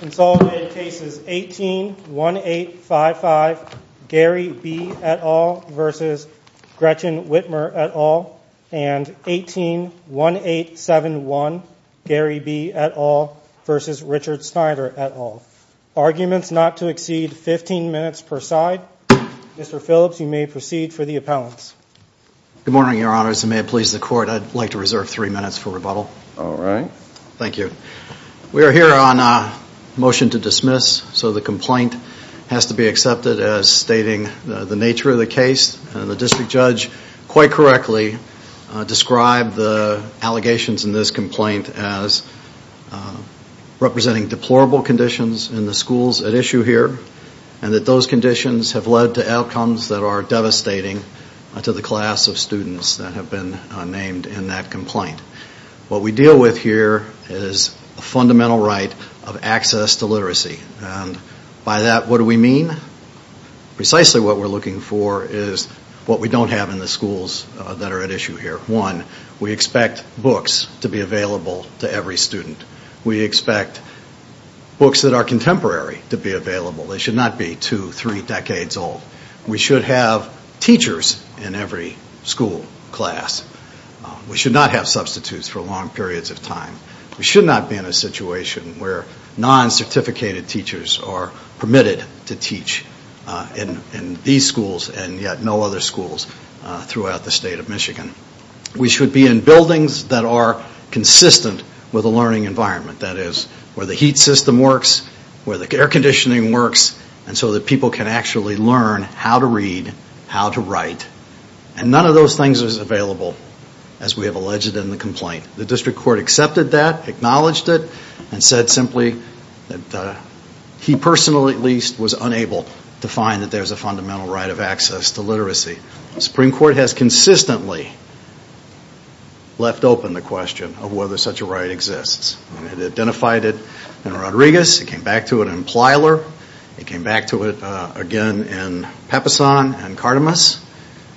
and 181871 Gary B. et al. v. Richard Snyder et al. Arguments not to exceed 15 minutes per side. Mr. Phillips you may proceed for the appellants. Good morning your honors and may it please the court I'd like to reserve three minutes for rebuttal. All right. Thank you. We're here on a motion to dismiss so the complaint has to be accepted as stating the nature of the case and the district judge quite correctly described the allegations in this complaint as representing deplorable conditions in the schools at issue here and that those conditions have led to outcomes that are devastating to the class of students that have been named in that complaint. What we deal with here is a fundamental right of access to literacy and by that what do we mean? Precisely what we're looking for is what we don't have in the schools that are at issue here. One, we expect books to be available to every student. We expect books that are contemporary to be available. They should not be two, three decades old. We should have teachers in every school class. We should not have substitutes for long periods of time. We should not be in a situation where non-certificated teachers are permitted to teach in these schools and yet no other schools throughout the state of Michigan. We should be in buildings that are consistent with a learning environment. That is where the heat system works, where the air conditioning works and so that people can actually learn how to read, how to write and none of those things is available as we have alleged in the complaint. The district court accepted that, acknowledged it and said simply that he personally at least was unable to find that there's a fundamental right of access to literacy. The Supreme Court has consistently left open the question of whether such a right exists. It identified it in Rodriguez. It came back to it in Plyler. It came back to it again in Peppeson and Cardemus.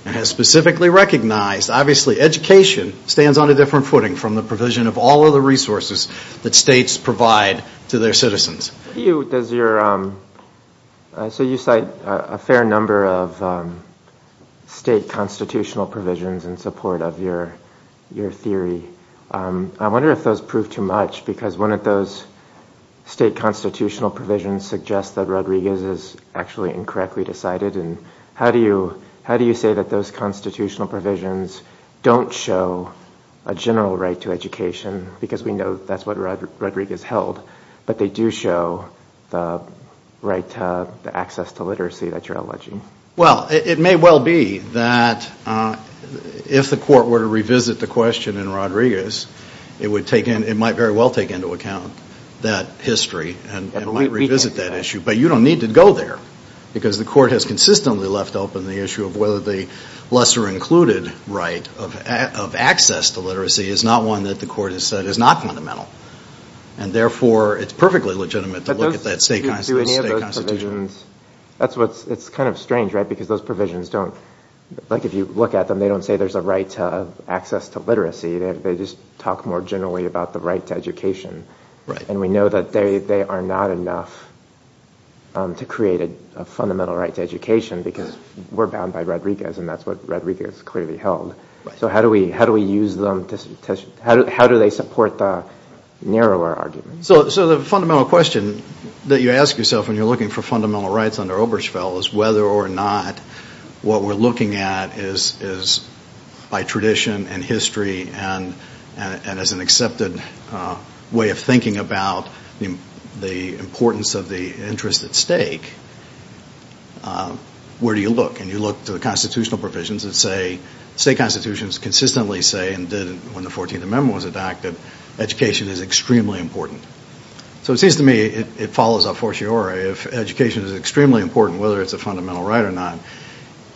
It has specifically recognized obviously education stands on a different footing from the provision of all of the resources that states provide to their citizens. You, does your, so you cite a fair number of state constitutional provisions in support of your theory. I wonder if those prove too much because one of those state constitutional provisions suggests that Rodriguez is actually incorrectly decided and how do you say that those constitutional provisions don't show a general right to education because we know that's what Rodriguez held but they do show the right to access to literacy that you're alleging. Well it may well be that if the court were to revisit the question in Rodriguez it would take in, it might very well take into account that history and might revisit that issue but you don't need to go there because the court has consistently left open the issue of whether the lesser included right of access to literacy is not one that the court has said is not fundamental and therefore it's perfectly legitimate to look at that state constitutional provision. That's what's, it's kind of strange right because those provisions don't, like if you look at them they don't say there's a right to access to literacy, they just talk more generally about the right to education and we know that they are not enough to create a fundamental right to education because we're bound by Rodriguez and that's what Rodriguez clearly held. So how do we use them to, how do they support the narrower argument? So the fundamental question that you ask yourself when you're looking for fundamental rights under Obergefell is whether or not what we're looking at is by tradition and history and as an accepted way of thinking about the importance of the interest at stake, where do you look? And you look to the constitutional provisions that say, state constitutions consistently say and did when the 14th Amendment was adopted, education is extremely important. So it seems to me it follows a fortiori if education is extremely important whether it's a fundamental right or not,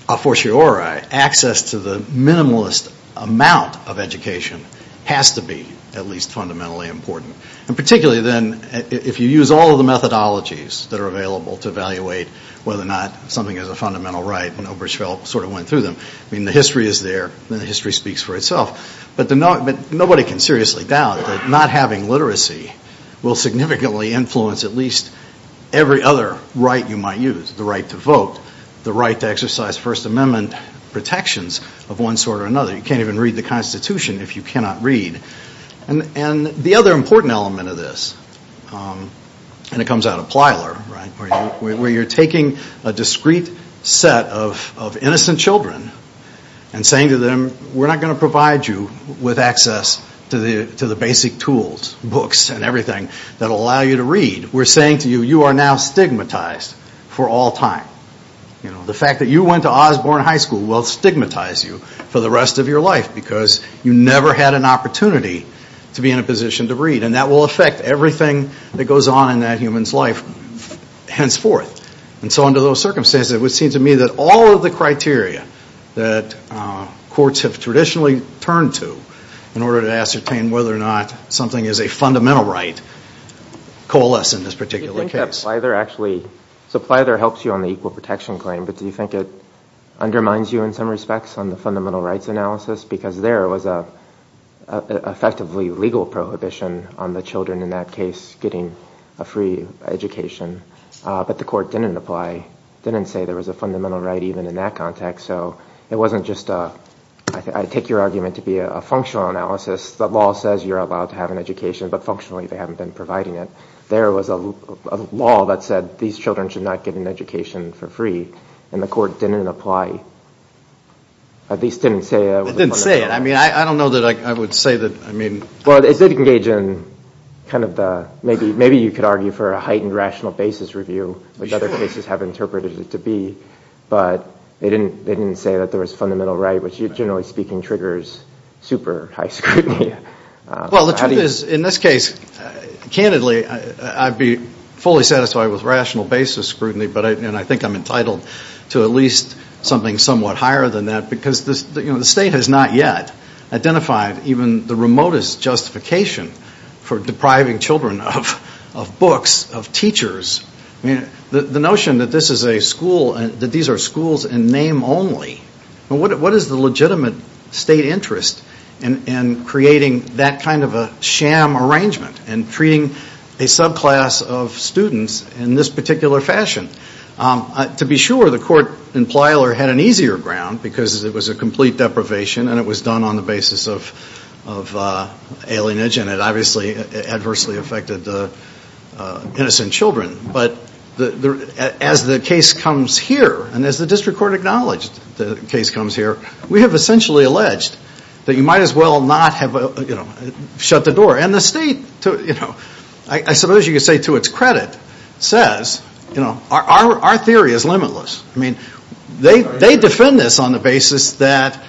a fortiori access to the minimalist amount of education has to be at least fundamentally important and particularly then if you use all of the methodologies that are available to evaluate whether or not something is a fundamental right and Obergefell sort of went through them. I mean the history is there and the history speaks for itself. But nobody can seriously doubt that not having literacy will significantly influence at least every other right you might use, the right to vote, the right to exercise First Amendment protections of one sort or another. You can't even read the Constitution if you cannot read. And the other important element of this, and it comes out of Plyler, right, where you're taking a discrete set of innocent children and saying to them, we're not going to provide you with access to the basic tools, books and everything that will allow you to read. We're saying to you, you are now stigmatized for all time. The fact that you went to Osborne High School will stigmatize you for the rest of your life because you never had an opportunity to be in a position to read and that will affect everything that goes on in that human's life henceforth. And so under those circumstances it would seem to me that all of the criteria that courts have traditionally turned to in order to ascertain whether or not something is a fundamental right coalesce in this particular case. Do you think that Plyler actually, so Plyler helps you on the equal protection claim, but do you think it undermines you in some respects on the fundamental rights analysis because there was a effectively legal prohibition on the children in that case getting a free education but the court didn't apply, didn't say there was a fundamental right even in that context. So it wasn't just a, I take your argument to be a functional analysis, the law says you're allowed to have an education but functionally they haven't been providing it. There was a law that said these children should not get an education for free and the court didn't apply, at least didn't say it. It didn't say it, I mean I don't know that I would say that, I mean. Well it did engage in kind of the, maybe you could argue for a heightened rational basis review which other cases have interpreted it to be, but they didn't say that there was fundamental right which generally speaking triggers super high scrutiny. Well the truth is in this case, candidly I'd be fully satisfied with rational basis scrutiny but I think I'm entitled to at least something somewhat higher than that because the state has not yet identified even the remotest justification for depriving children of books, of teachers. I mean the notion that this is a school and that these are schools in name only, what is the legitimate state interest in creating that kind of a sham arrangement and treating a subclass of students in this particular fashion? To be sure, the court in Plyler had an easier ground because it was a complete deprivation and it was done on the basis of alienage and it obviously adversely affected innocent children. But as the case comes here, and as the district court acknowledged the case comes here, we have essentially alleged that you might as well not have shut the door. And the state, I suppose you could say to its credit, says our theory is limitless. I mean they defend this on the basis that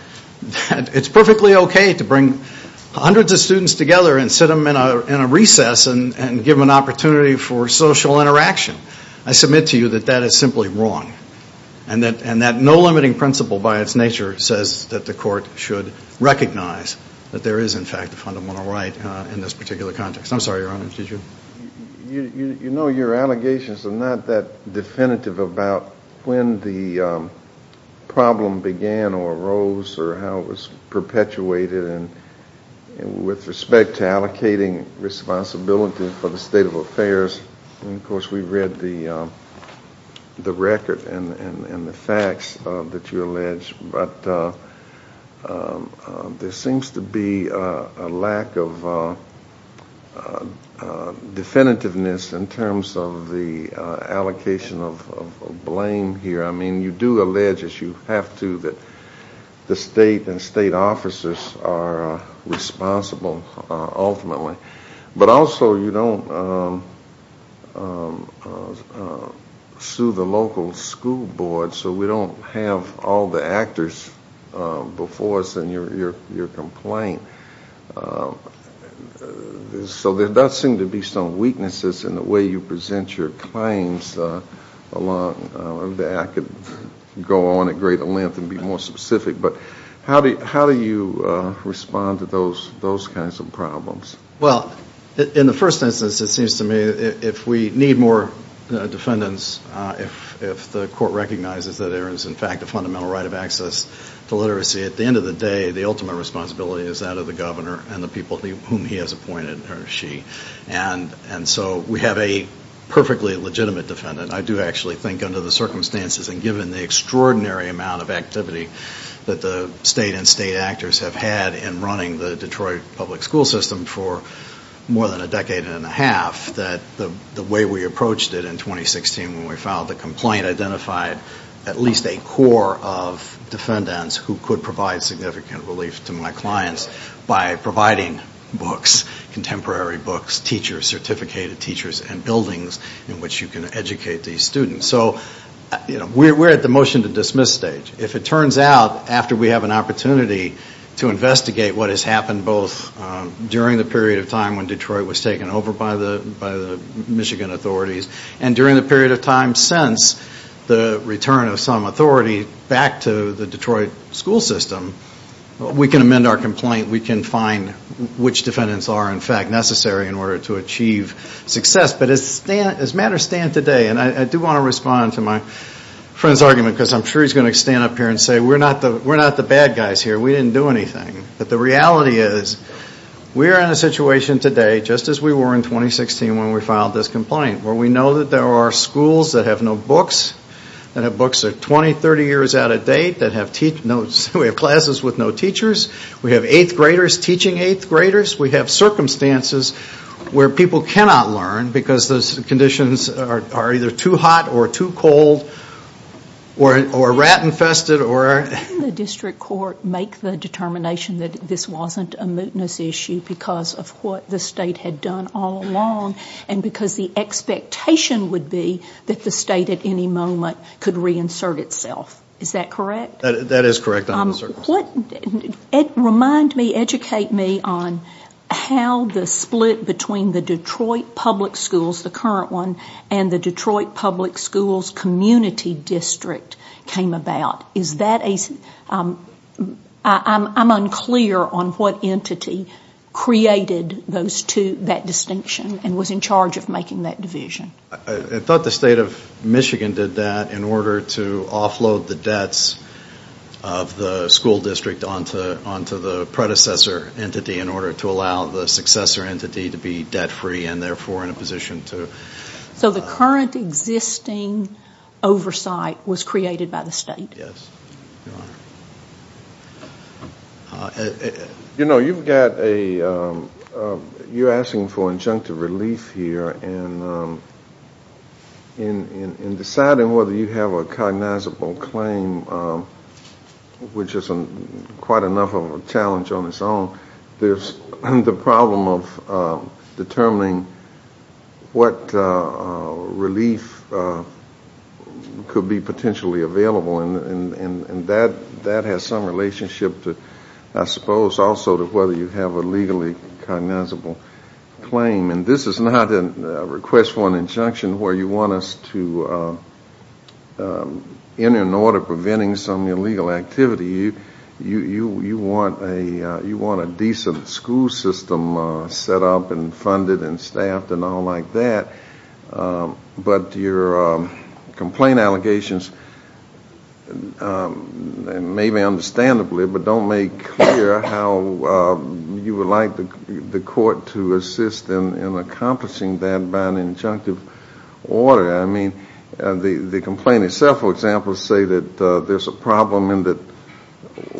it's perfectly okay to bring hundreds of students together and sit them in a recess and give them an opportunity for social interaction. I submit to you that that is simply wrong and that no limiting principle by its nature says that the court should recognize that there is in fact a fundamental right in this particular context. I'm sorry, Your Honor, did you? You know your allegations are not that definitive about when the problem began or arose or how it was perpetuated. And with respect to allocating responsibility for the state of affairs, of the record and the facts that you allege, there seems to be a lack of definitiveness in terms of the allocation of blame here. I mean you do allege, as you have to, that the state and state officers are responsible ultimately. But also you don't sue the local school board, so we don't have all the actors before us in your complaint. So there does seem to be some weaknesses in the way you present your claims. I could go on at greater specific, but how do you respond to those kinds of problems? Well, in the first instance it seems to me if we need more defendants, if the court recognizes that there is in fact a fundamental right of access to literacy, at the end of the day the ultimate responsibility is that of the governor and the people whom he has appointed or she. And so we have a perfectly legitimate defendant. I do actually think under the circumstances and given the extraordinary amount of activity that the state and state actors have had in running the Detroit public school system for more than a decade and a half, that the way we approached it in 2016 when we filed the complaint identified at least a core of defendants who could provide significant relief to my clients by providing books, contemporary books, teachers, certificated teachers and buildings in which you can educate these students. So we are at the motion to dismiss stage. If it turns out after we have an opportunity to investigate what has happened both during the period of time when Detroit was taken over by the Michigan authorities and during the period of time since the return of some authority back to the Detroit school system, we can amend our complaint. We can find which defendants are in fact necessary in order to achieve success. But as matters stand today and I do want to respond to my friend's argument because I'm sure he's going to stand up here and say we're not the bad guys here. We didn't do anything. But the reality is we are in a situation today just as we were in 2016 when we filed this complaint where we know that there are schools that have no books, that have books that are 20, 30 years out of date, that have classes with no teachers. We have 8th graders teaching 8th graders. We have circumstances where people cannot learn because the conditions are either too hot or too cold or rat infested. Can the district court make the determination that this wasn't a mootness issue because of what the state had done all along and because the expectation would be that the state at any moment could reinsert itself. Is that correct? That is correct. Remind me, educate me on how the split between the Detroit Public Schools, the current one, and the Detroit Public Schools Community District came about. I'm unclear on what entity created those two, that distinction and was in charge of making that division. I thought the state of Michigan did that in order to offload the debts of the school district onto the predecessor entity in order to allow the successor entity to be debt free and therefore in a position to... So the current existing oversight was created by the state. Yes, Your Honor. You know, you've got a... you're asking for injunctive relief here and in deciding whether you have a cognizable claim, which isn't quite enough of a challenge on its own, there's the problem of determining what relief could be potentially available and that has some relationship to, I suppose, also to whether you have a legally cognizable claim. And this is not a request for an injunction where you want us to enter an order preventing some illegal activity. You want a decent school system set up and funded and staffed and all that. But your complaint allegations, maybe understandably, but don't make clear how you would like the court to assist in accomplishing that by an injunctive order. I mean, the complaint itself, for example, say that there's a problem in that,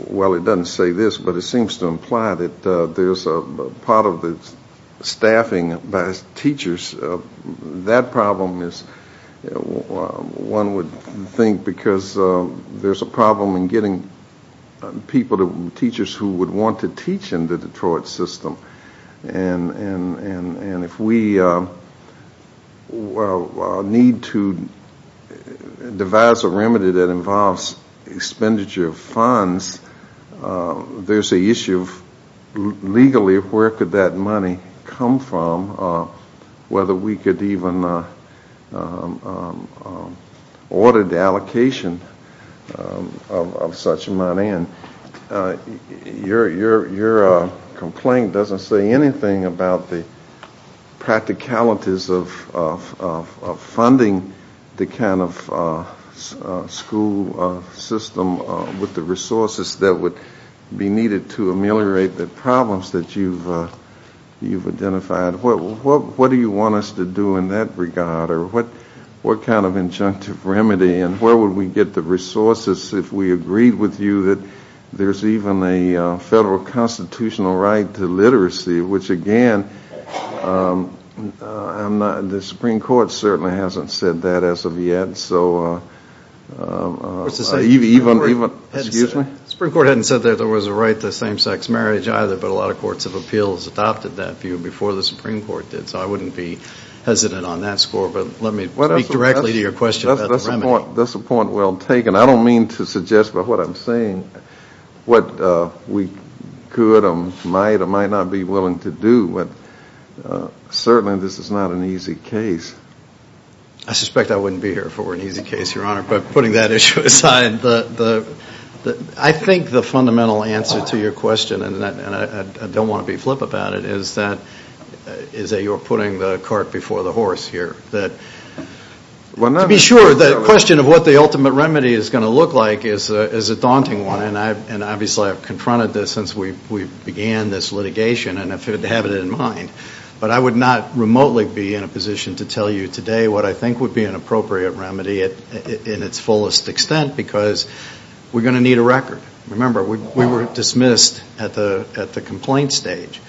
well it doesn't say this, but it says that problem is one would think because there's a problem in getting people, teachers who would want to teach in the Detroit system. And if we need to devise a remedy that involves expenditure of funds, there's a issue of legally where could that money come from, whether we could even order the allocation of such money. And your complaint doesn't say anything about the practicalities of funding the kind of school system with the resources that would be needed to ameliorate the problems that you've identified. What do you want us to do in that regard or what kind of injunctive remedy and where would we get the resources if we agreed with you that there's even a federal constitutional right to literacy, which again, the Supreme Court certainly hasn't said that as of yet, so even, excuse me? The Supreme Court hadn't said there was a right to same-sex marriage either, but a lot of courts of appeals adopted that view before the Supreme Court did, so I wouldn't be hesitant on that score, but let me speak directly to your question about the remedy. That's a point well taken. I don't mean to suggest, but what I'm saying, what we could might or might not be willing to do, but certainly this is not an easy case. I suspect I wouldn't be here for an easy case, Your Honor, but putting that issue aside, I think the fundamental answer to your question, and I don't want to be flip about it, is that you're putting the cart before the horse here. To be sure, the question of what the ultimate remedy is going to look like is a daunting one, and obviously I've confronted this since we began this litigation and have it in mind, but I would not remotely be in a position to tell you today what I think would be an appropriate remedy in its fullest extent because we're going to need a record. Remember, we were dismissed at the complaint stage,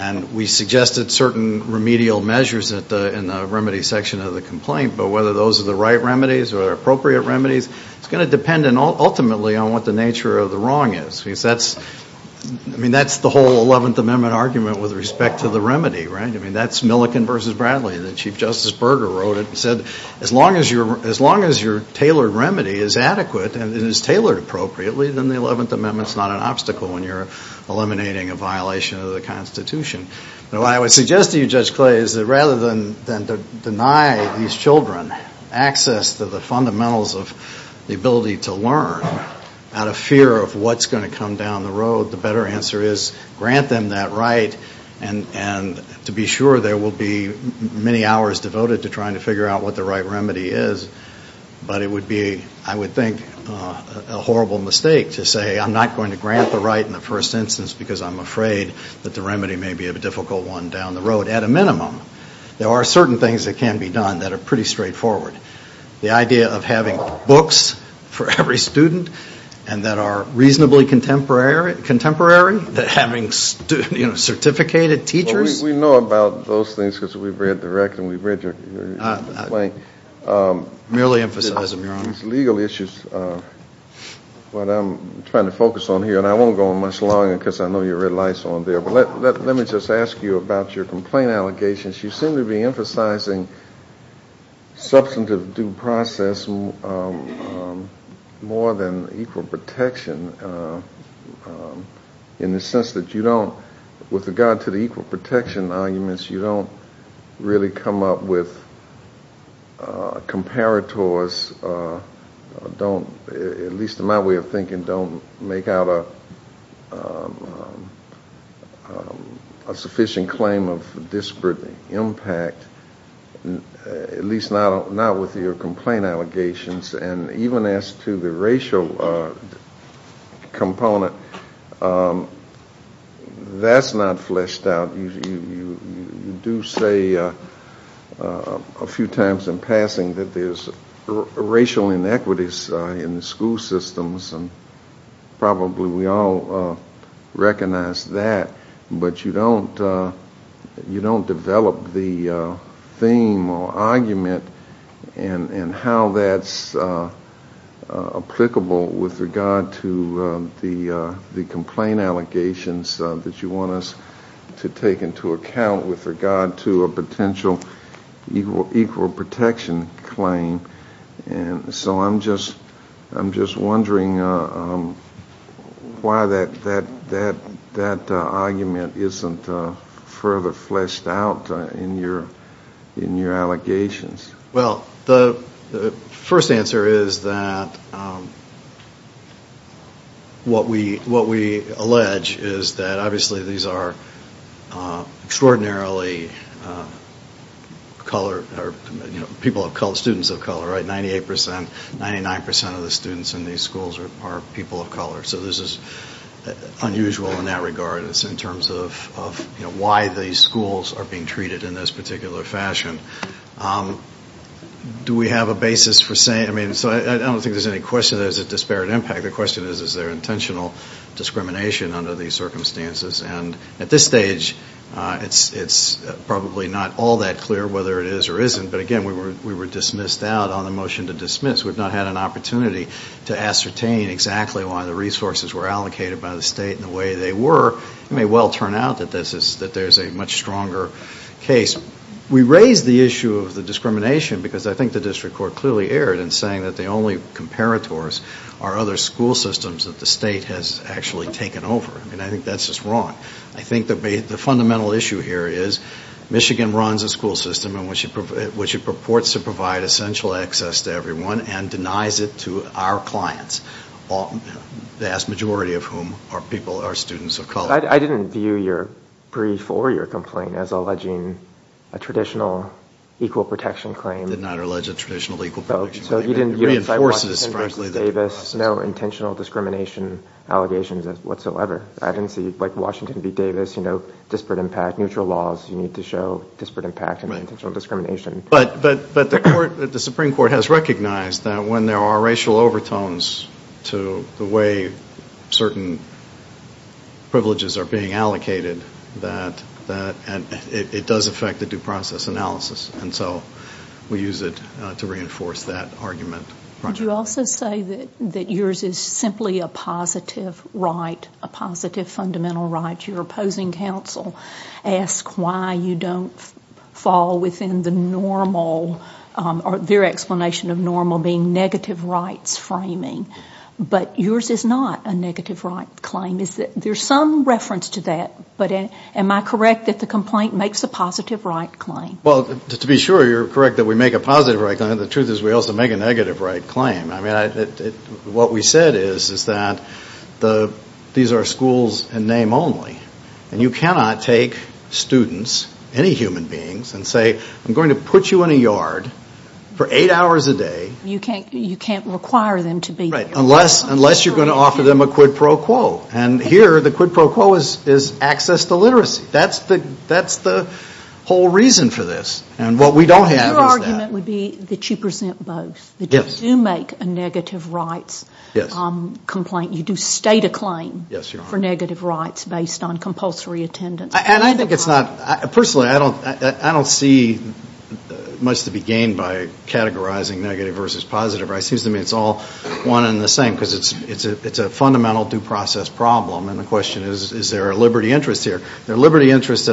and we suggested certain remedial measures in the remedy section of the complaint, but whether those are the right remedies or appropriate remedies, it's going to depend ultimately on what the nature of the wrong is. I mean, that's the whole 11th Amendment argument with respect to the remedy, right? I mean, that's Millikan v. Bradley. Chief Justice Berger wrote it and said, as long as your tailored remedy is adequate and is tailored appropriately, then the 11th Amendment is not an obstacle when you're eliminating a violation of the Constitution. What I would suggest to you, Judge Clay, is that rather than deny these children access to the fundamentals of the ability to learn out of fear of what's going to come down the road, the better answer is grant them that right, and to be sure there will be many hours devoted to trying to figure out what the right remedy is, but it would be, I would think, a horrible mistake to say, I'm not going to grant the right in the first instance because I'm afraid that the remedy may be a difficult one down the road. At a minimum, there are certain things that can be done that are pretty straightforward. The idea of having books for every student and that are reasonably contemporary, that having student, you know, certificated teachers. Well, we know about those things because we've read the rec and we've read your complaint. I merely emphasize them, Your Honor. These legal issues, what I'm trying to focus on here, and I won't go on much longer because I know your red light's on there, but let me just ask you about your complaint allegations. You seem to be emphasizing substantive due process more than equal protection in the sense that you don't, with regard to the equal protection arguments, you don't really come up with comparators, don't, at least in my way of thinking, don't make out a, you know, a sufficient claim of disparate impact, at least not with your complaint allegations and even as to the racial component, that's not fleshed out. You do say a few times in passing that there's racial inequities in the school systems and probably we all recognize that, but you don't develop the theme or argument and how that's applicable with regard to the complaint allegations that you want us to take into account with regard to a potential equal protection claim. And so I'm just wondering why that doesn't seem to be the case. That argument isn't further fleshed out in your allegations. Well, the first answer is that what we allege is that obviously these are extraordinarily color, people of color, students of color, right, 98%, 99% of the students in these schools are people of color. So this is unusual in that regard in terms of, you know, why these schools are being treated in this particular fashion. Do we have a basis for saying, I mean, so I don't think there's any question there's a disparate impact. The question is, is there intentional discrimination under these circumstances? And at this stage, it's probably not all that clear whether it is or isn't, but again, we were dismissed out on the motion to dismiss. We've not had an opportunity to ascertain exactly why the resources were allocated by the state and the way they were. It may well turn out that there's a much stronger case. We raise the issue of the discrimination because I think the district court clearly erred in saying that the only comparators are other school systems that the state has actually taken over. I mean, I think that's just wrong. I think the fundamental issue here is Michigan runs a school system in which it purports to provide essential access to everyone and denies it to our clients, the vast majority of whom are people, are students of color. I didn't view your brief or your complaint as alleging a traditional equal protection claim. Did not allege a traditional equal protection claim. So you didn't see Washington v. Davis, no intentional discrimination allegations whatsoever. I didn't see Washington v. Davis, disparate impact, neutral laws, you need to show disparate impact and intentional discrimination. But the Supreme Court has recognized that when there are racial overtones to the way certain privileges are being allocated, it does affect the due process analysis, and so we use it to reinforce that argument. Would you also say that yours is simply a positive right, a positive fundamental right? Your opposing counsel asked why you don't fall within the normal, or their explanation of normal being negative rights framing. But yours is not a negative right claim. There's some reference to that, but am I correct that the complaint makes a positive right claim? To be sure, you're correct that we make a positive right claim. The truth is we also make a negative right claim. What we said is that these are schools in name only, and you cannot take students, any human beings, and say I'm going to put you in a yard for eight hours a day. You can't require them to be there. Right, unless you're going to offer them a quid pro quo, and here the quid pro quo is access to literacy. That's the whole reason for this, and what we don't have is that. So your argument would be that you present both, that you do make a negative rights complaint, you do state a claim for negative rights based on compulsory attendance. And I think it's not, personally I don't see much to be gained by categorizing negative versus positive. It seems to me it's all one and the same, because it's a fundamental due process problem, and the question is, is there a liberty interest here? There are liberty interests,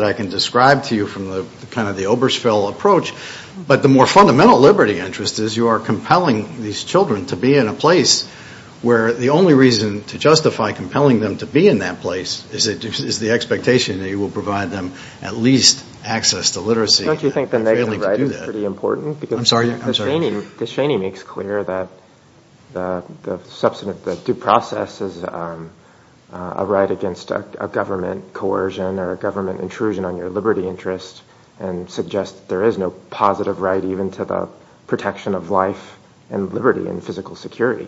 but the fundamental liberty interest is you are compelling these children to be in a place where the only reason to justify compelling them to be in that place is the expectation that you will provide them at least access to literacy. Don't you think the negative right is pretty important? I'm sorry? Because the Cheney makes clear that the due process is a right against a government coercion or a government intrusion on your liberty interest, and suggests there is no positive right even to the protection of life and liberty and physical security.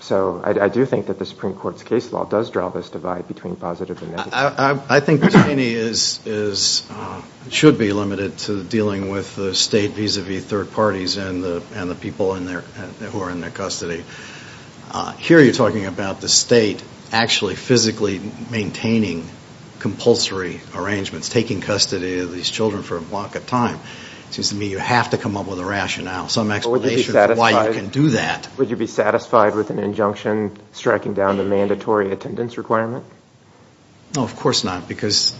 So I do think that the Supreme Court's case law does draw this divide between positive and negative. I think Cheney should be limited to dealing with the state vis-a-vis third parties and the people who are in their custody. Here you're talking about the state actually physically maintaining compulsory arrangements, taking custody of these children for a block of time. It seems to me you have to come up with a rationale, some explanation for why you can do that. Would you be satisfied with an injunction striking down the mandatory attendance requirement? No, of course not, because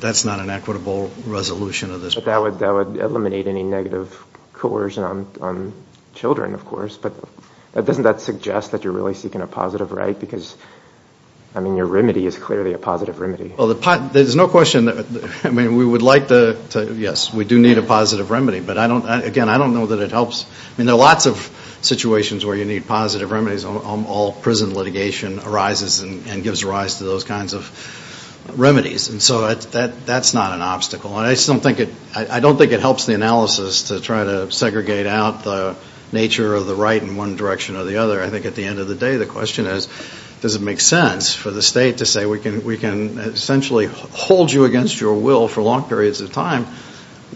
that's not an equitable resolution of this problem. That would eliminate any negative coercion on children, of course, but doesn't that suggest that you're really seeking a positive right? Because your remedy is clearly a positive remedy. There's no question. Yes, we do need a positive remedy, but again, I don't know that it helps. I mean, there are lots of situations where you need positive remedies. All prison litigation arises and gives rise to those kinds of remedies. So that's not an obstacle. I don't think it helps the analysis to try to segregate out the nature of the right in one direction or the other. I think at the end of the day the question is, does it make sense for the state to say we can essentially hold you against your will for long periods of time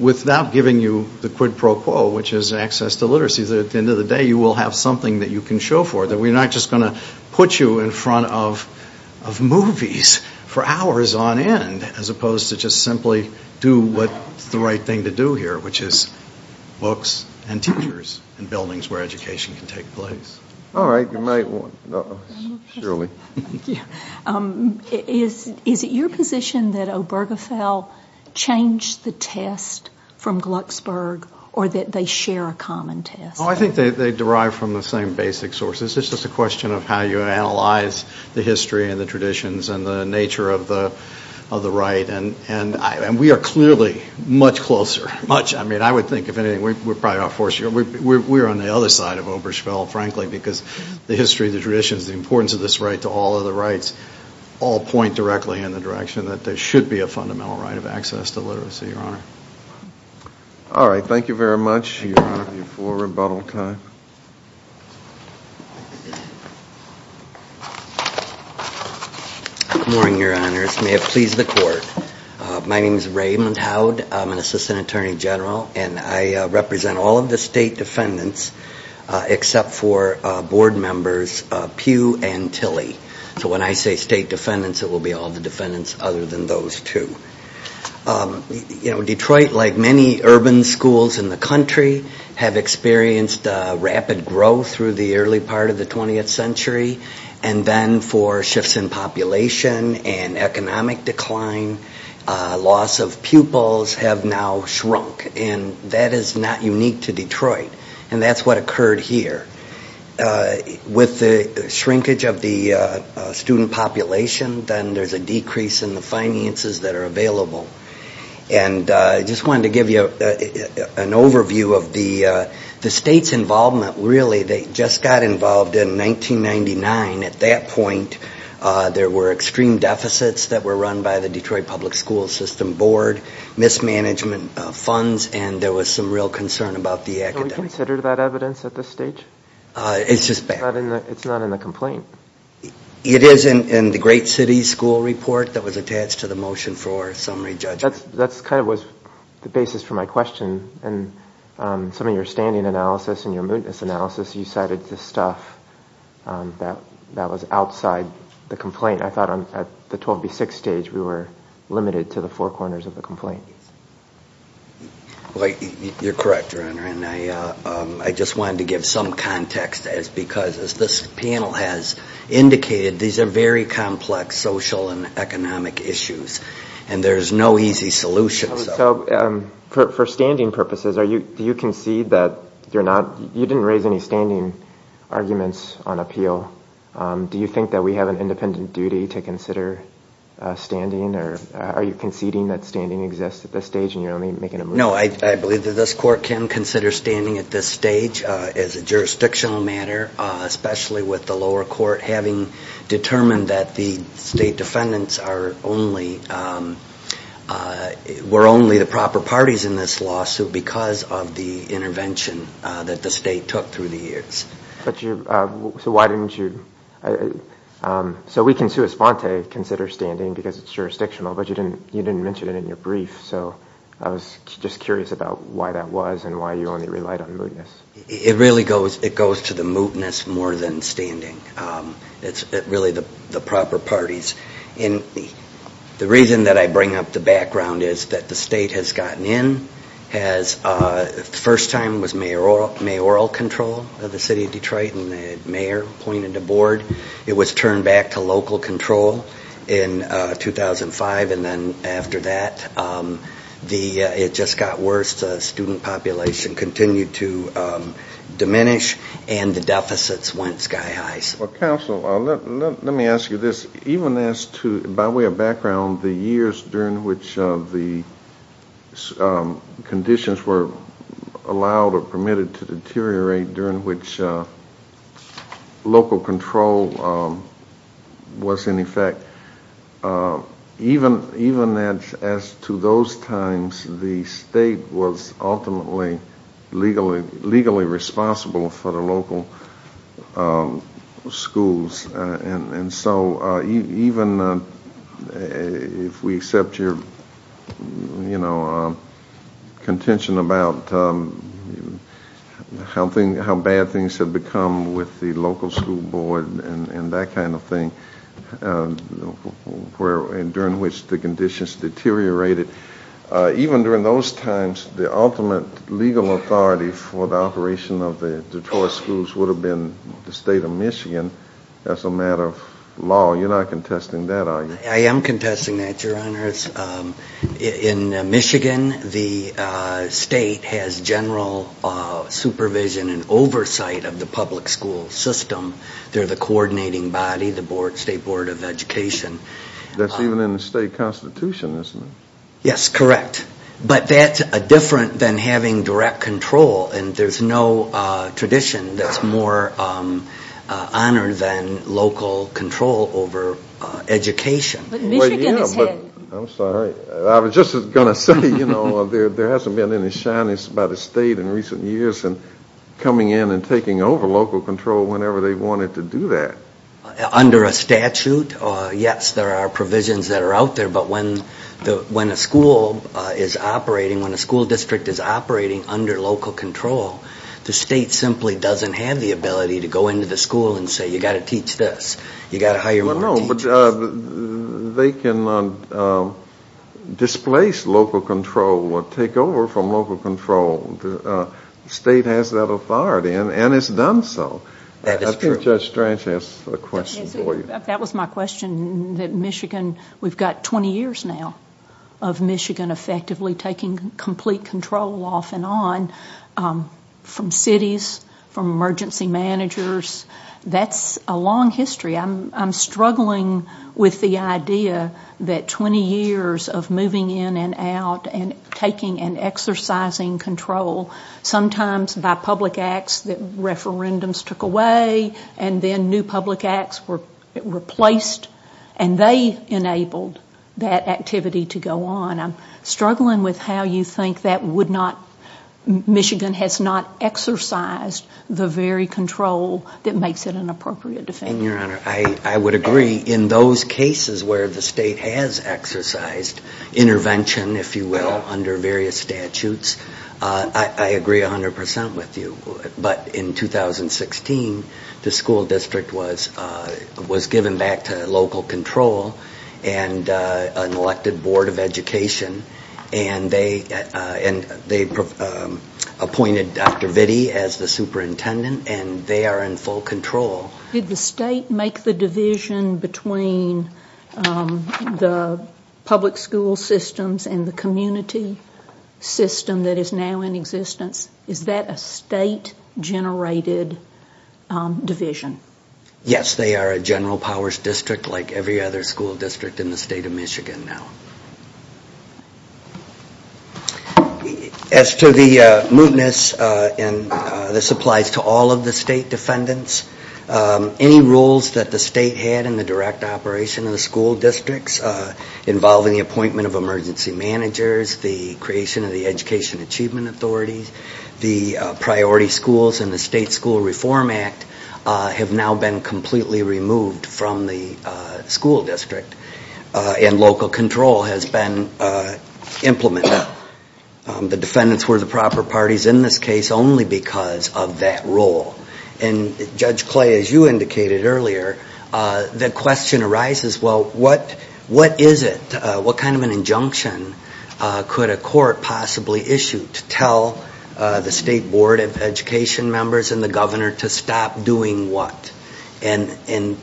without giving you the quid pro quo, which is access to literacy, that at the end of the day you will have something that you can show for it, that we're not just going to put you in front of movies for hours on end, as opposed to just simply do what's the right thing to do here, which is books and teachers and buildings where education can take place. All right, you might want to. Is it your position that Obergefell changed the test from Glucksburg, or that they share a common test? Oh, I think they derive from the same basic sources. It's just a question of how you analyze the history and the traditions and the nature of the right. And we are clearly much closer, much. I mean, I would think if anything, we're on the other side of Obergefell, frankly, because the history, the traditions, the importance of this right to all other rights all point directly in the direction that there should be a fundamental right of access to literacy, Your Honor. All right, thank you very much. You have your full rebuttal time. Good morning, Your Honors. May it please the Court. My name is Raymond Howd. I'm an assistant State Defendant, except for board members Pugh and Tilley. So when I say State Defendants, it will be all the defendants other than those two. You know, Detroit, like many urban schools in the country, have experienced rapid growth through the early part of the 20th century. And then for shifts in population and economic decline, loss of pupils have now shrunk. And that is not unique to Detroit. And that's what occurred here. With the shrinkage of the student population, then there's a decrease in the finances that are available. And I just wanted to give you an overview of the state's involvement. Really, they just got involved in 1999. At that point, there were extreme deficits that were run by the Detroit Public School System Board, mismanagement of funds, and there was some real concern about the academics. Can we consider that evidence at this stage? It's just bad. It's not in the complaint. It is in the Great City School Report that was attached to the motion for summary judgment. That kind of was the basis for my question. And some of your standing analysis and your stuff, that was outside the complaint. I thought at the 12B6 stage, we were limited to the four corners of the complaint. You're correct, Your Honor. And I just wanted to give some context, because as this panel has indicated, these are very complex social and economic issues. And there's no easy solution. So for standing purposes, do you concede that you're not, you didn't raise any standing arguments on appeal. Do you think that we have an independent duty to consider standing? Are you conceding that standing exists at this stage and you're only making a motion? No, I believe that this court can consider standing at this stage as a jurisdictional matter, especially with the lower court having determined that the state defendants are only the proper parties in this lawsuit because of the intervention that the state took through the years. So we can sui sponte consider standing because it's jurisdictional, but you didn't mention it in your brief. So I was just curious about why that was and why you only relied on mootness. It really goes to the mootness more than standing. It's really the proper parties. And the reason that I bring up the background is that the state has gotten in, has first time was mayoral control of the city of Detroit and the mayor appointed a board. It was turned back to local control in 2005 and then after that, it just got worse. The student population continued to diminish and the deficits went sky high. Well, counsel, let me ask you this. Even as to, by way of background, the years during which the conditions were allowed or permitted to deteriorate during which local control was in effect, even as to those times, the state was ultimately legally responsible for the local schools. And so even if we accept your contention about how bad things have become with the local school board and that kind of thing, during which the conditions deteriorated, even during those times, the ultimate legal authority for the operation of the Detroit schools would have been the state of Michigan as a matter of law. You're not contesting that, are you? I am contesting that, your honors. In Michigan, the state has general supervision and oversight of the public school system. They're the coordinating body, the state board of education. That's even in the state constitution, isn't it? Yes, correct. But that's different than having direct control. And there's no tradition that's more honored than local control over education. But Michigan is head. I'm sorry. I was just going to say, you know, there hasn't been any shyness by the state in recent years in coming in and taking over local control whenever they wanted to do that. Under a statute, yes, there are provisions that are out there. But when a school is operating, when a school district is operating under local control, the state simply doesn't have the ability to go into the school and say, you've got to teach this. You've got to hire more teachers. Well, no, but they cannot displace local control or take over from local control. The state has that authority, and it's done so. That is true. Judge Strange has a question for you. That was my question, that Michigan, we've got 20 years now of Michigan effectively taking complete control off and on from cities, from emergency managers. That's a long history. I'm struggling with the idea that 20 years of moving in and out and taking and exercising control, sometimes by public acts that referendums took away and then new public acts were replaced, and they enabled that activity to go on. I'm struggling with how you think that would not – Michigan has not exercised the very control that makes it an appropriate defense. I would agree. In those cases where the state has exercised intervention, if you will, under various statutes, I agree 100% with you. But in 2016, the school district was given back to local control and an elected board of education, and they appointed Dr. Vitti as the superintendent, and they are in full control. Did the state make the division between the public school systems and the community? System that is now in existence, is that a state-generated division? Yes, they are a general powers district like every other school district in the state of Michigan now. As to the mootness, and this applies to all of the state defendants, any rules that the state had in the direct operation of the school districts involving the appointment of emergency managers, the creation of the education achievement authorities, the priority schools and the state school reform act have now been completely removed from the school district, and local control has been implemented. The defendants were the proper parties in this case only because of that role. Judge Clay, as you indicated earlier, the question arises, well, what is it? What kind of an injunction could a court possibly issue to tell the state board of education members and the governor to stop doing what? And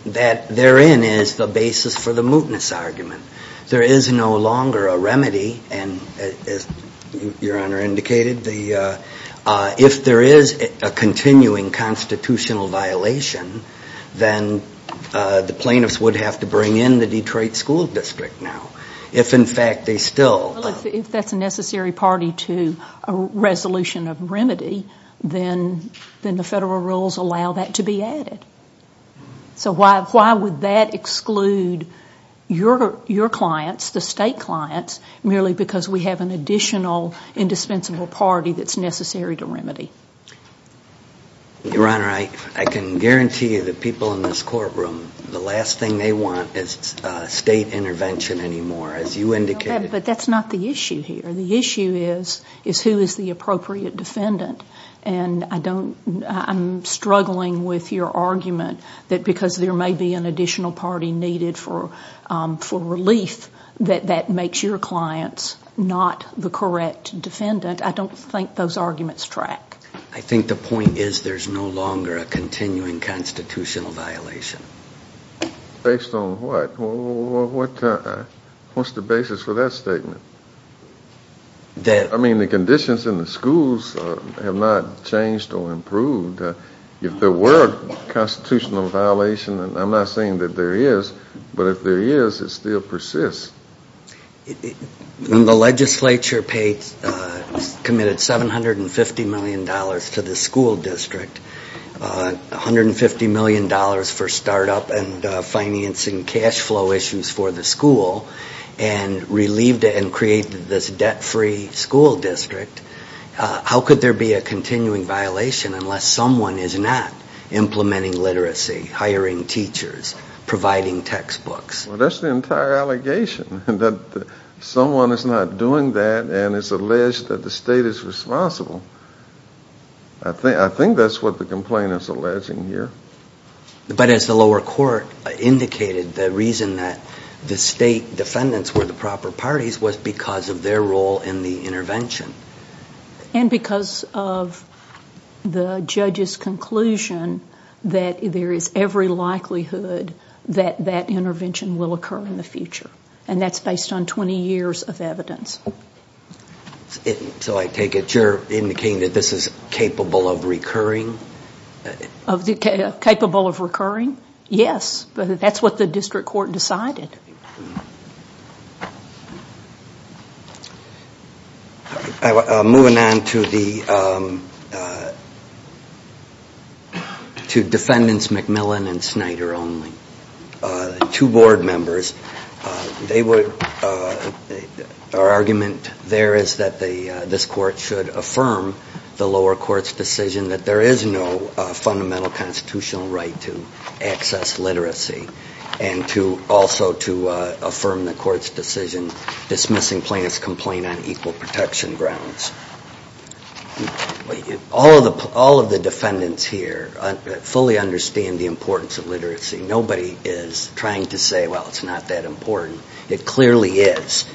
that therein is the basis for the mootness argument. There is no longer a remedy, and as your honor indicated, if there is a continuing constitutional violation, then the plaintiffs would have to bring in the Detroit school district now. If in fact they still... If that is a necessary party to a resolution of remedy, then the federal rules allow that to be added. So why would that exclude your clients, the state clients, merely because we have an additional indispensable party that is necessary to remedy? Your honor, I can guarantee you the people in this courtroom, the last thing they want is state intervention anymore, as you indicated. But that's not the issue here. The issue is who is the appropriate defendant. And I don't... I'm struggling with your argument that because there may be an additional party needed for relief that that makes your clients not the correct defendant. I don't think those arguments track. I think the point is there is no longer a continuing constitutional violation. Based on what? What's the basis for that statement? I mean the conditions in the schools have not changed or improved. If there were a constitutional violation, and I'm not saying that there is, but if there is, it still persists. The legislature paid, committed $750 million to the school district, $150 million for start up and financing cash flow issues for the school, and relieved it and created this debt-free school district. How could there be a continuing violation unless someone is not implementing literacy, hiring teachers, providing textbooks? That's the entire allegation, that someone is not doing that and it's alleged that the state is responsible. I think that's what the complaint is alleging here. But as the lower court indicated, the reason that the state defendants were the proper parties was because of their role in the intervention. And because of the judge's conclusion that there is every likelihood that that intervention will occur in the future. And that's based on 20 years of evidence. So I take it you're indicating that this is capable of recurring? Of the capable of recurring? Yes. That's what the district court decided. Moving on to defendants McMillan and Snyder only. Two board members. Our argument there is that this court should affirm the lower court's decision that there is no fundamental constitutional right to access literacy. And also to affirm the court's decision dismissing plaintiff's complaint on equal protection grounds. All of the defendants here fully understand the importance of literacy. Nobody is trying to say, well, it's not that important. It clearly is.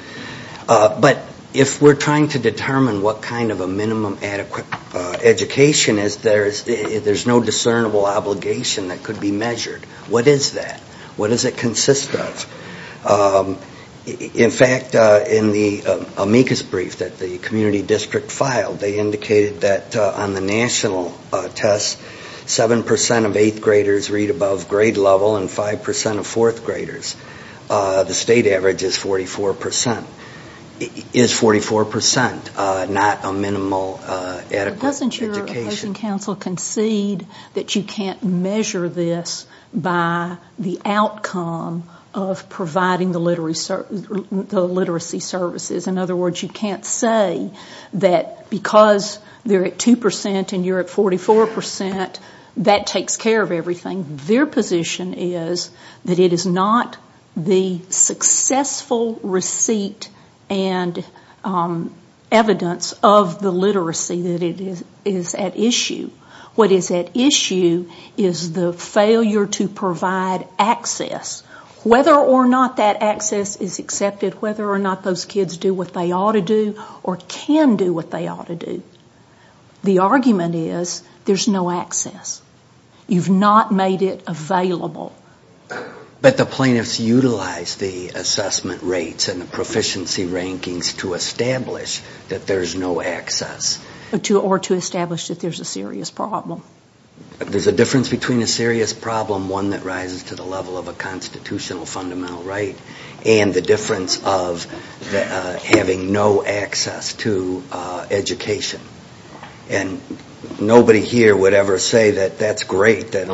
But if we're trying to determine what kind of a minimum adequate education is, there's no discernible obligation that could be measured. What is that? What does it consist of? In fact, in the amicus brief that the community district filed, they indicated that on the national test, 7% of 8th graders read above grade level and 5% of 4th graders. The state average is 44%. Is 44% not a minimal adequate education? Doesn't your opposing counsel concede that you can't measure this by the outcome of providing the literacy services? In other words, you can't say that because they're at 2% and you're at 44%, that takes care of everything. Their position is that it is not the success full receipt and evidence of the literacy that is at issue. What is at issue is the failure to provide access. Whether or not that access is accepted, whether or not those kids do what they ought to do or can do what they ought to do, the argument is there's no access. You've not made it available. But the plaintiffs utilize the assessment rates and the proficiency rankings to establish that there's no access. Or to establish that there's a serious problem. There's a difference between a serious problem, one that rises to the level of a constitutional fundamental right, and the difference of having no access to education. Nobody here would ever say that that's great, that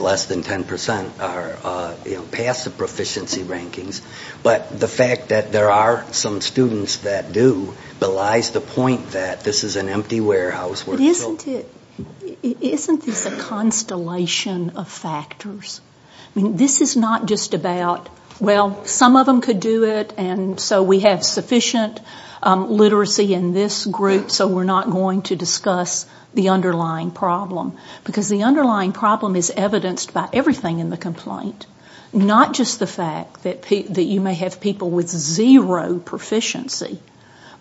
less than 10% pass the proficiency rankings. But the fact that there are some students that do belies the point that this is an empty warehouse where it's filled. Isn't this a constellation of factors? This is not just about, well, some of them could do it and so we have sufficient literacy in this group, so we're not going to discuss the underlying problem. Because the underlying problem is evidenced by everything in the complaint. Not just the fact that you may have people with zero proficiency,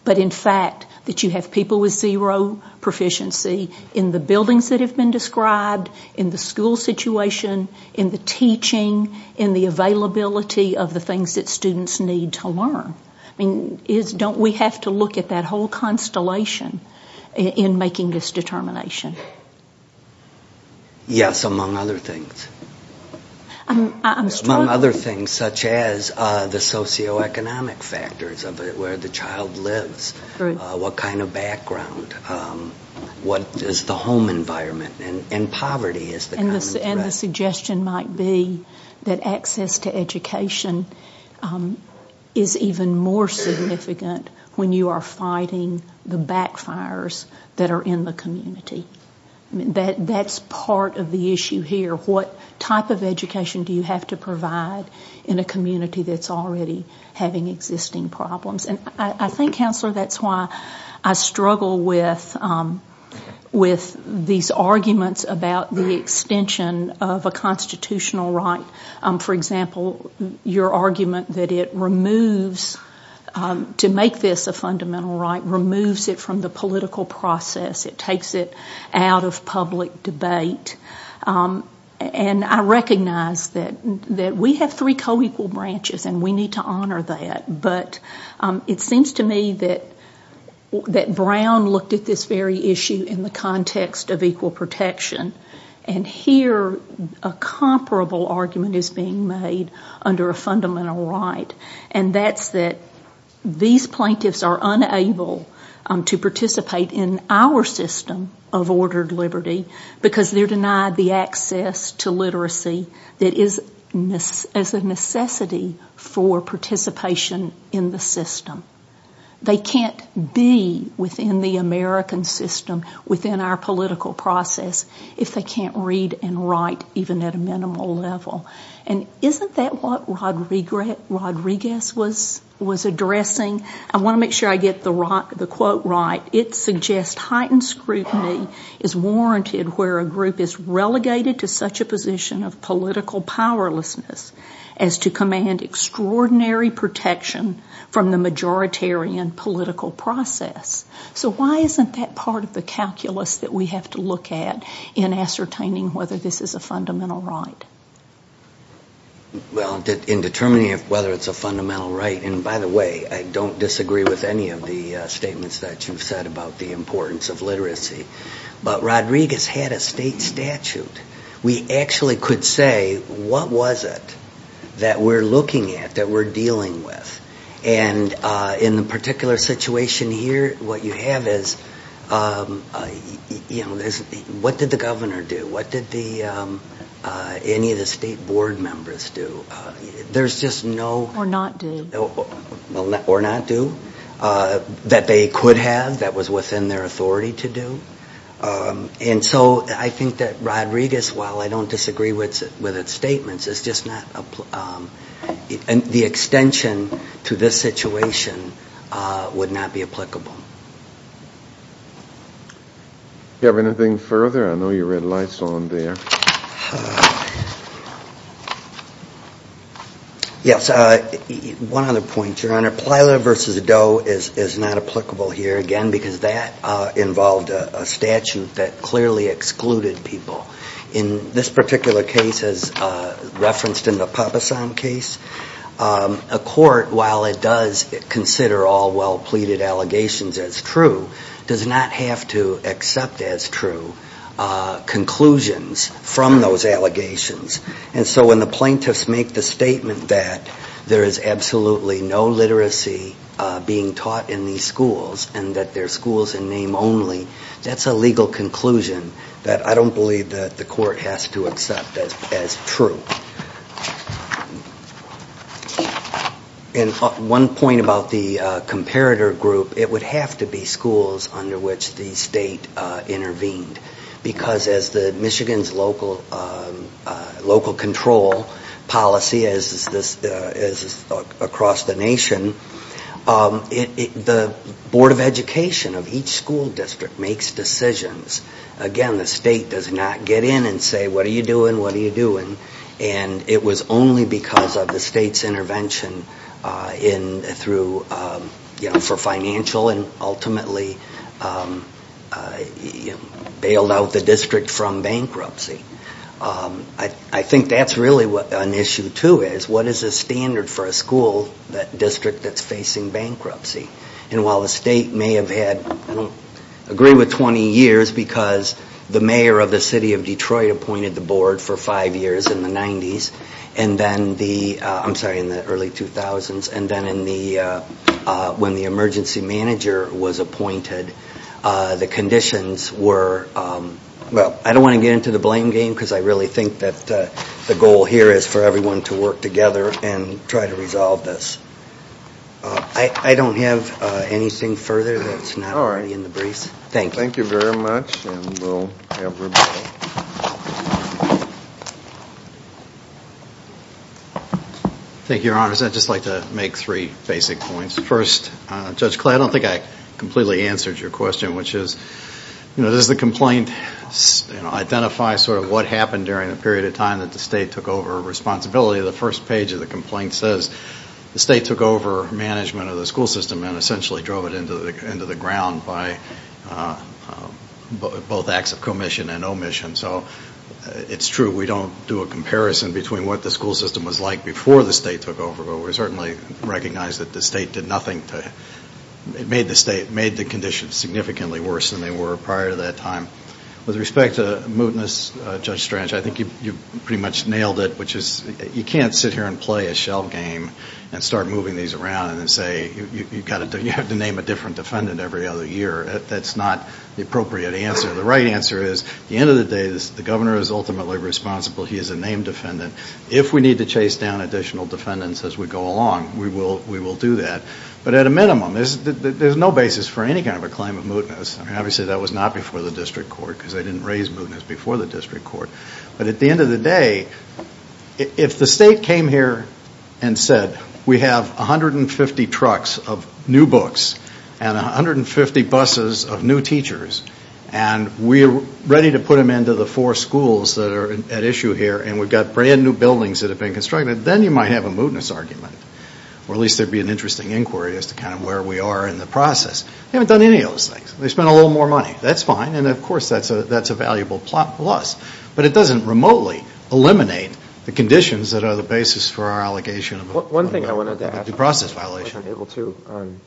but in fact that you have people with zero proficiency in the buildings that have been described, in the school situation, in the teaching, in the availability of the things that students need to learn. Don't we have to look at that whole constellation in making this determination? Yes, among other things. I'm struggling. Among other things, such as the socioeconomic factors of where the child lives, what kind of background, what is the home environment, and poverty is the common threat. The suggestion might be that access to education is even more significant when you are fighting the backfires that are in the community. That's part of the issue here. What type of education do you have to provide in a community that's already having existing problems? I think, Counselor, that's why I struggle with these arguments about the extension of a constitutional right. For example, your argument that it removes, to make this a fundamental right, removes it from the political process. It takes it out of public debate. I recognize that we have three co-equal branches and we need to honor that. But it seems to me that in the context of equal protection, and here a comparable argument is being made under a fundamental right, and that's that these plaintiffs are unable to participate in our system of ordered liberty because they're denied the access to literacy that is a necessity for participation in the system. They can't be within the American system without the within our political process if they can't read and write even at a minimal level. Isn't that what Rodriguez was addressing? I want to make sure I get the quote right. It suggests heightened scrutiny is warranted where a group is relegated to such a position of political powerlessness as to command extraordinary protection from the majoritarian political process. So why isn't that part of the calculus that we have to look at in ascertaining whether this is a fundamental right? In determining whether it's a fundamental right, and by the way, I don't disagree with any of the statements that you've said about the importance of literacy, but Rodriguez had a state statute. We actually could say what was it that we're looking at, that we're looking at. The question here, what you have is, what did the governor do? What did any of the state board members do? There's just no... Or not do. Or not do. That they could have, that was within their authority to do. And so I think that Rodriguez, while I don't disagree with its statements, the extension to this situation would not be applicable. Do you have anything further? I know you read lights on there. Yes. One other point, Your Honor. Plyler v. Doe is not applicable here, again, because that involved a statute that clearly excluded people. In this particular case, as referenced in the Papasan case, a court, while it does consider all well-pleaded allegations as true, does not have to accept as true conclusions from those allegations. And so when the plaintiffs make the statement that there is absolutely no literacy being taught in these schools and that they're schools in name only, that's a legal conclusion that I don't believe that the court has to accept as true. And one point about the comparator group, it would have to be schools under which the state intervened. Because as Michigan's local control policy, as is across the nation, the state intervened. And it was only because of the state's intervention for financial and ultimately bailed out the district from bankruptcy. I think that's really what an issue, too, is. What is the standard for a school, a district that's facing bankruptcy? And while the state may have had, I don't agree with 20 years because the mayor of the city of Detroit appointed the board for five years in the early 2000s. And then when the emergency manager was appointed, the conditions were... I don't want to get into the blame game because I really think that the goal here is for everyone to work together and try to resolve this. I don't have anything further that's not already in the briefs. Thank you very much. And we'll have Rebecca. Thank you, Your Honors. I'd just like to make three basic points. First, Judge Clay, I don't think I completely answered your question, which is, does the complaint identify what happened during the period of time that the state took over responsibility? The first page of the complaint says the state took over management of the school system and essentially drove it into the ground by both acts of commission and omission. So it's true, we don't do a comparison between what the school system was like before the state took over, but we certainly recognize that the state made the conditions significantly worse than they were prior to that time. With respect to mootness, Judge Strange, I think you pretty much nailed it, which is you can't sit here and play a shell game and start moving these around and say, you have to name a different defendant every other year. That's not the appropriate answer. The right answer is, at the end of the day, the governor is ultimately responsible. He is a named defendant. If we need to chase down additional defendants as we go along, we will do that. But at a minimum, there's no basis for any kind of a claim of mootness. Obviously, that was not before the district court, because they didn't raise mootness before the district court. But at the end of the day, if the state came here and said, we have 150 trucks of new books and 150 buses of new teachers, and we are ready to put them into the four schools that are at issue here, and we've got brand new buildings that have been constructed, then you might have a mootness argument, or at least there would be an interesting inquiry as to kind of where we are in the process. They haven't done any of those things. They've spent a little more money. That's fine, and of course, that's a valuable plus. But it doesn't remotely eliminate the conditions that are the basis for our allegation of a mootness. One thing I wanted to ask, which I'm able to on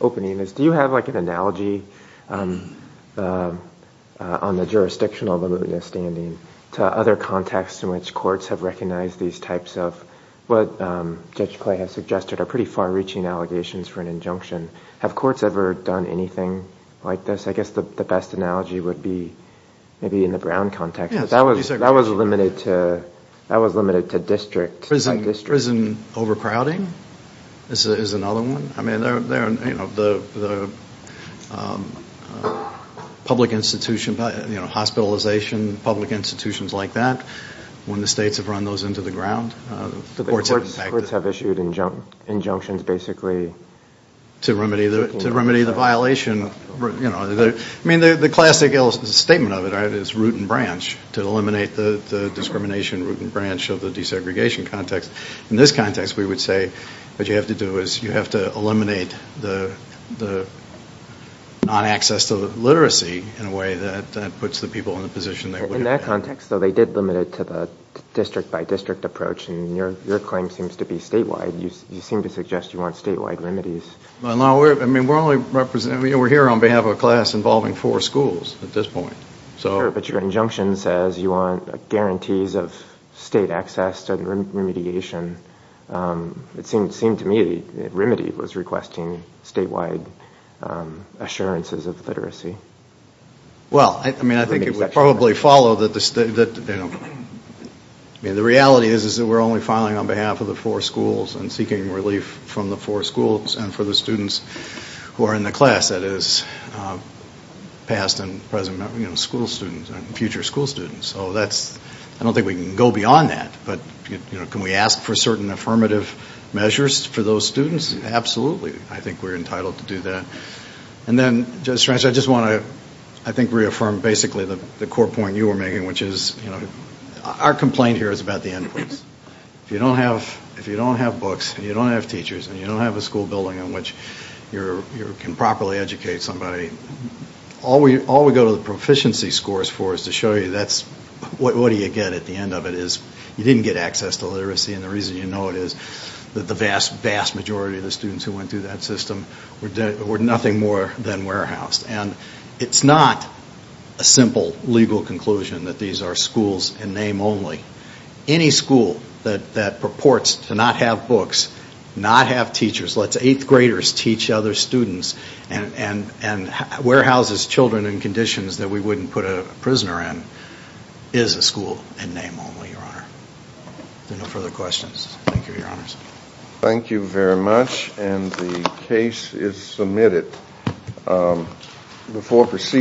opening, is do you have an analogy on the jurisdictional mootness standing to other contexts in which courts have recognized these types of what Judge Clay has suggested are pretty far-reaching allegations for an injunction? Have courts ever done anything like this? I guess the best analogy would be maybe in the Brown context. That was limited to district. Prison overcrowding is another one. I mean, the public institution, hospitalization, public institutions like that, when the states have run those into the ground, the courts have issued injunctions basically to remedy the violation. I mean, the classic statement of it is root and branch, to eliminate the discrimination, root and branch of the desegregation context. In this context, we would say what you have to do is you have to eliminate the non-access to the literacy in a way that puts the people in the position they would have been. In that context, though, they did limit it to the district-by-district approach, and your claim seems to be statewide. You seem to suggest you want statewide remedies. No, I mean, we're here on behalf of a class involving four schools at this point. But your injunction says you want guarantees of state access to remediation. It seemed to me that remedy was requesting statewide assurances of literacy. Well, I mean, I think it would probably follow that the reality is that we're only filing on behalf of the four schools and seeking relief from the four schools and for the students who are in the class, that is, past and present, you know, school students and future school students. So that's, I don't think we can go beyond that. But, you know, can we ask for certain affirmative measures for those students? Absolutely. I think we're entitled to do that. And then, Judge Strange, I just want to, I think, reaffirm basically the core point you were making, which is, you know, our complaint here is about the inputs. If you don't have a system where you can properly educate somebody, all we go to the proficiency scores for is to show you that's, what do you get at the end of it is, you didn't get access to literacy and the reason you know it is that the vast, vast majority of the students who went through that system were nothing more than warehoused. And it's not a simple legal conclusion that these are schools in name only. Any school that purports to not have books, not have graders teach other students, and warehouses children in conditions that we wouldn't put a prisoner in is a school in name only, Your Honor. If there are no further questions. Thank you, Your Honors. Thank you very much and the case is submitted.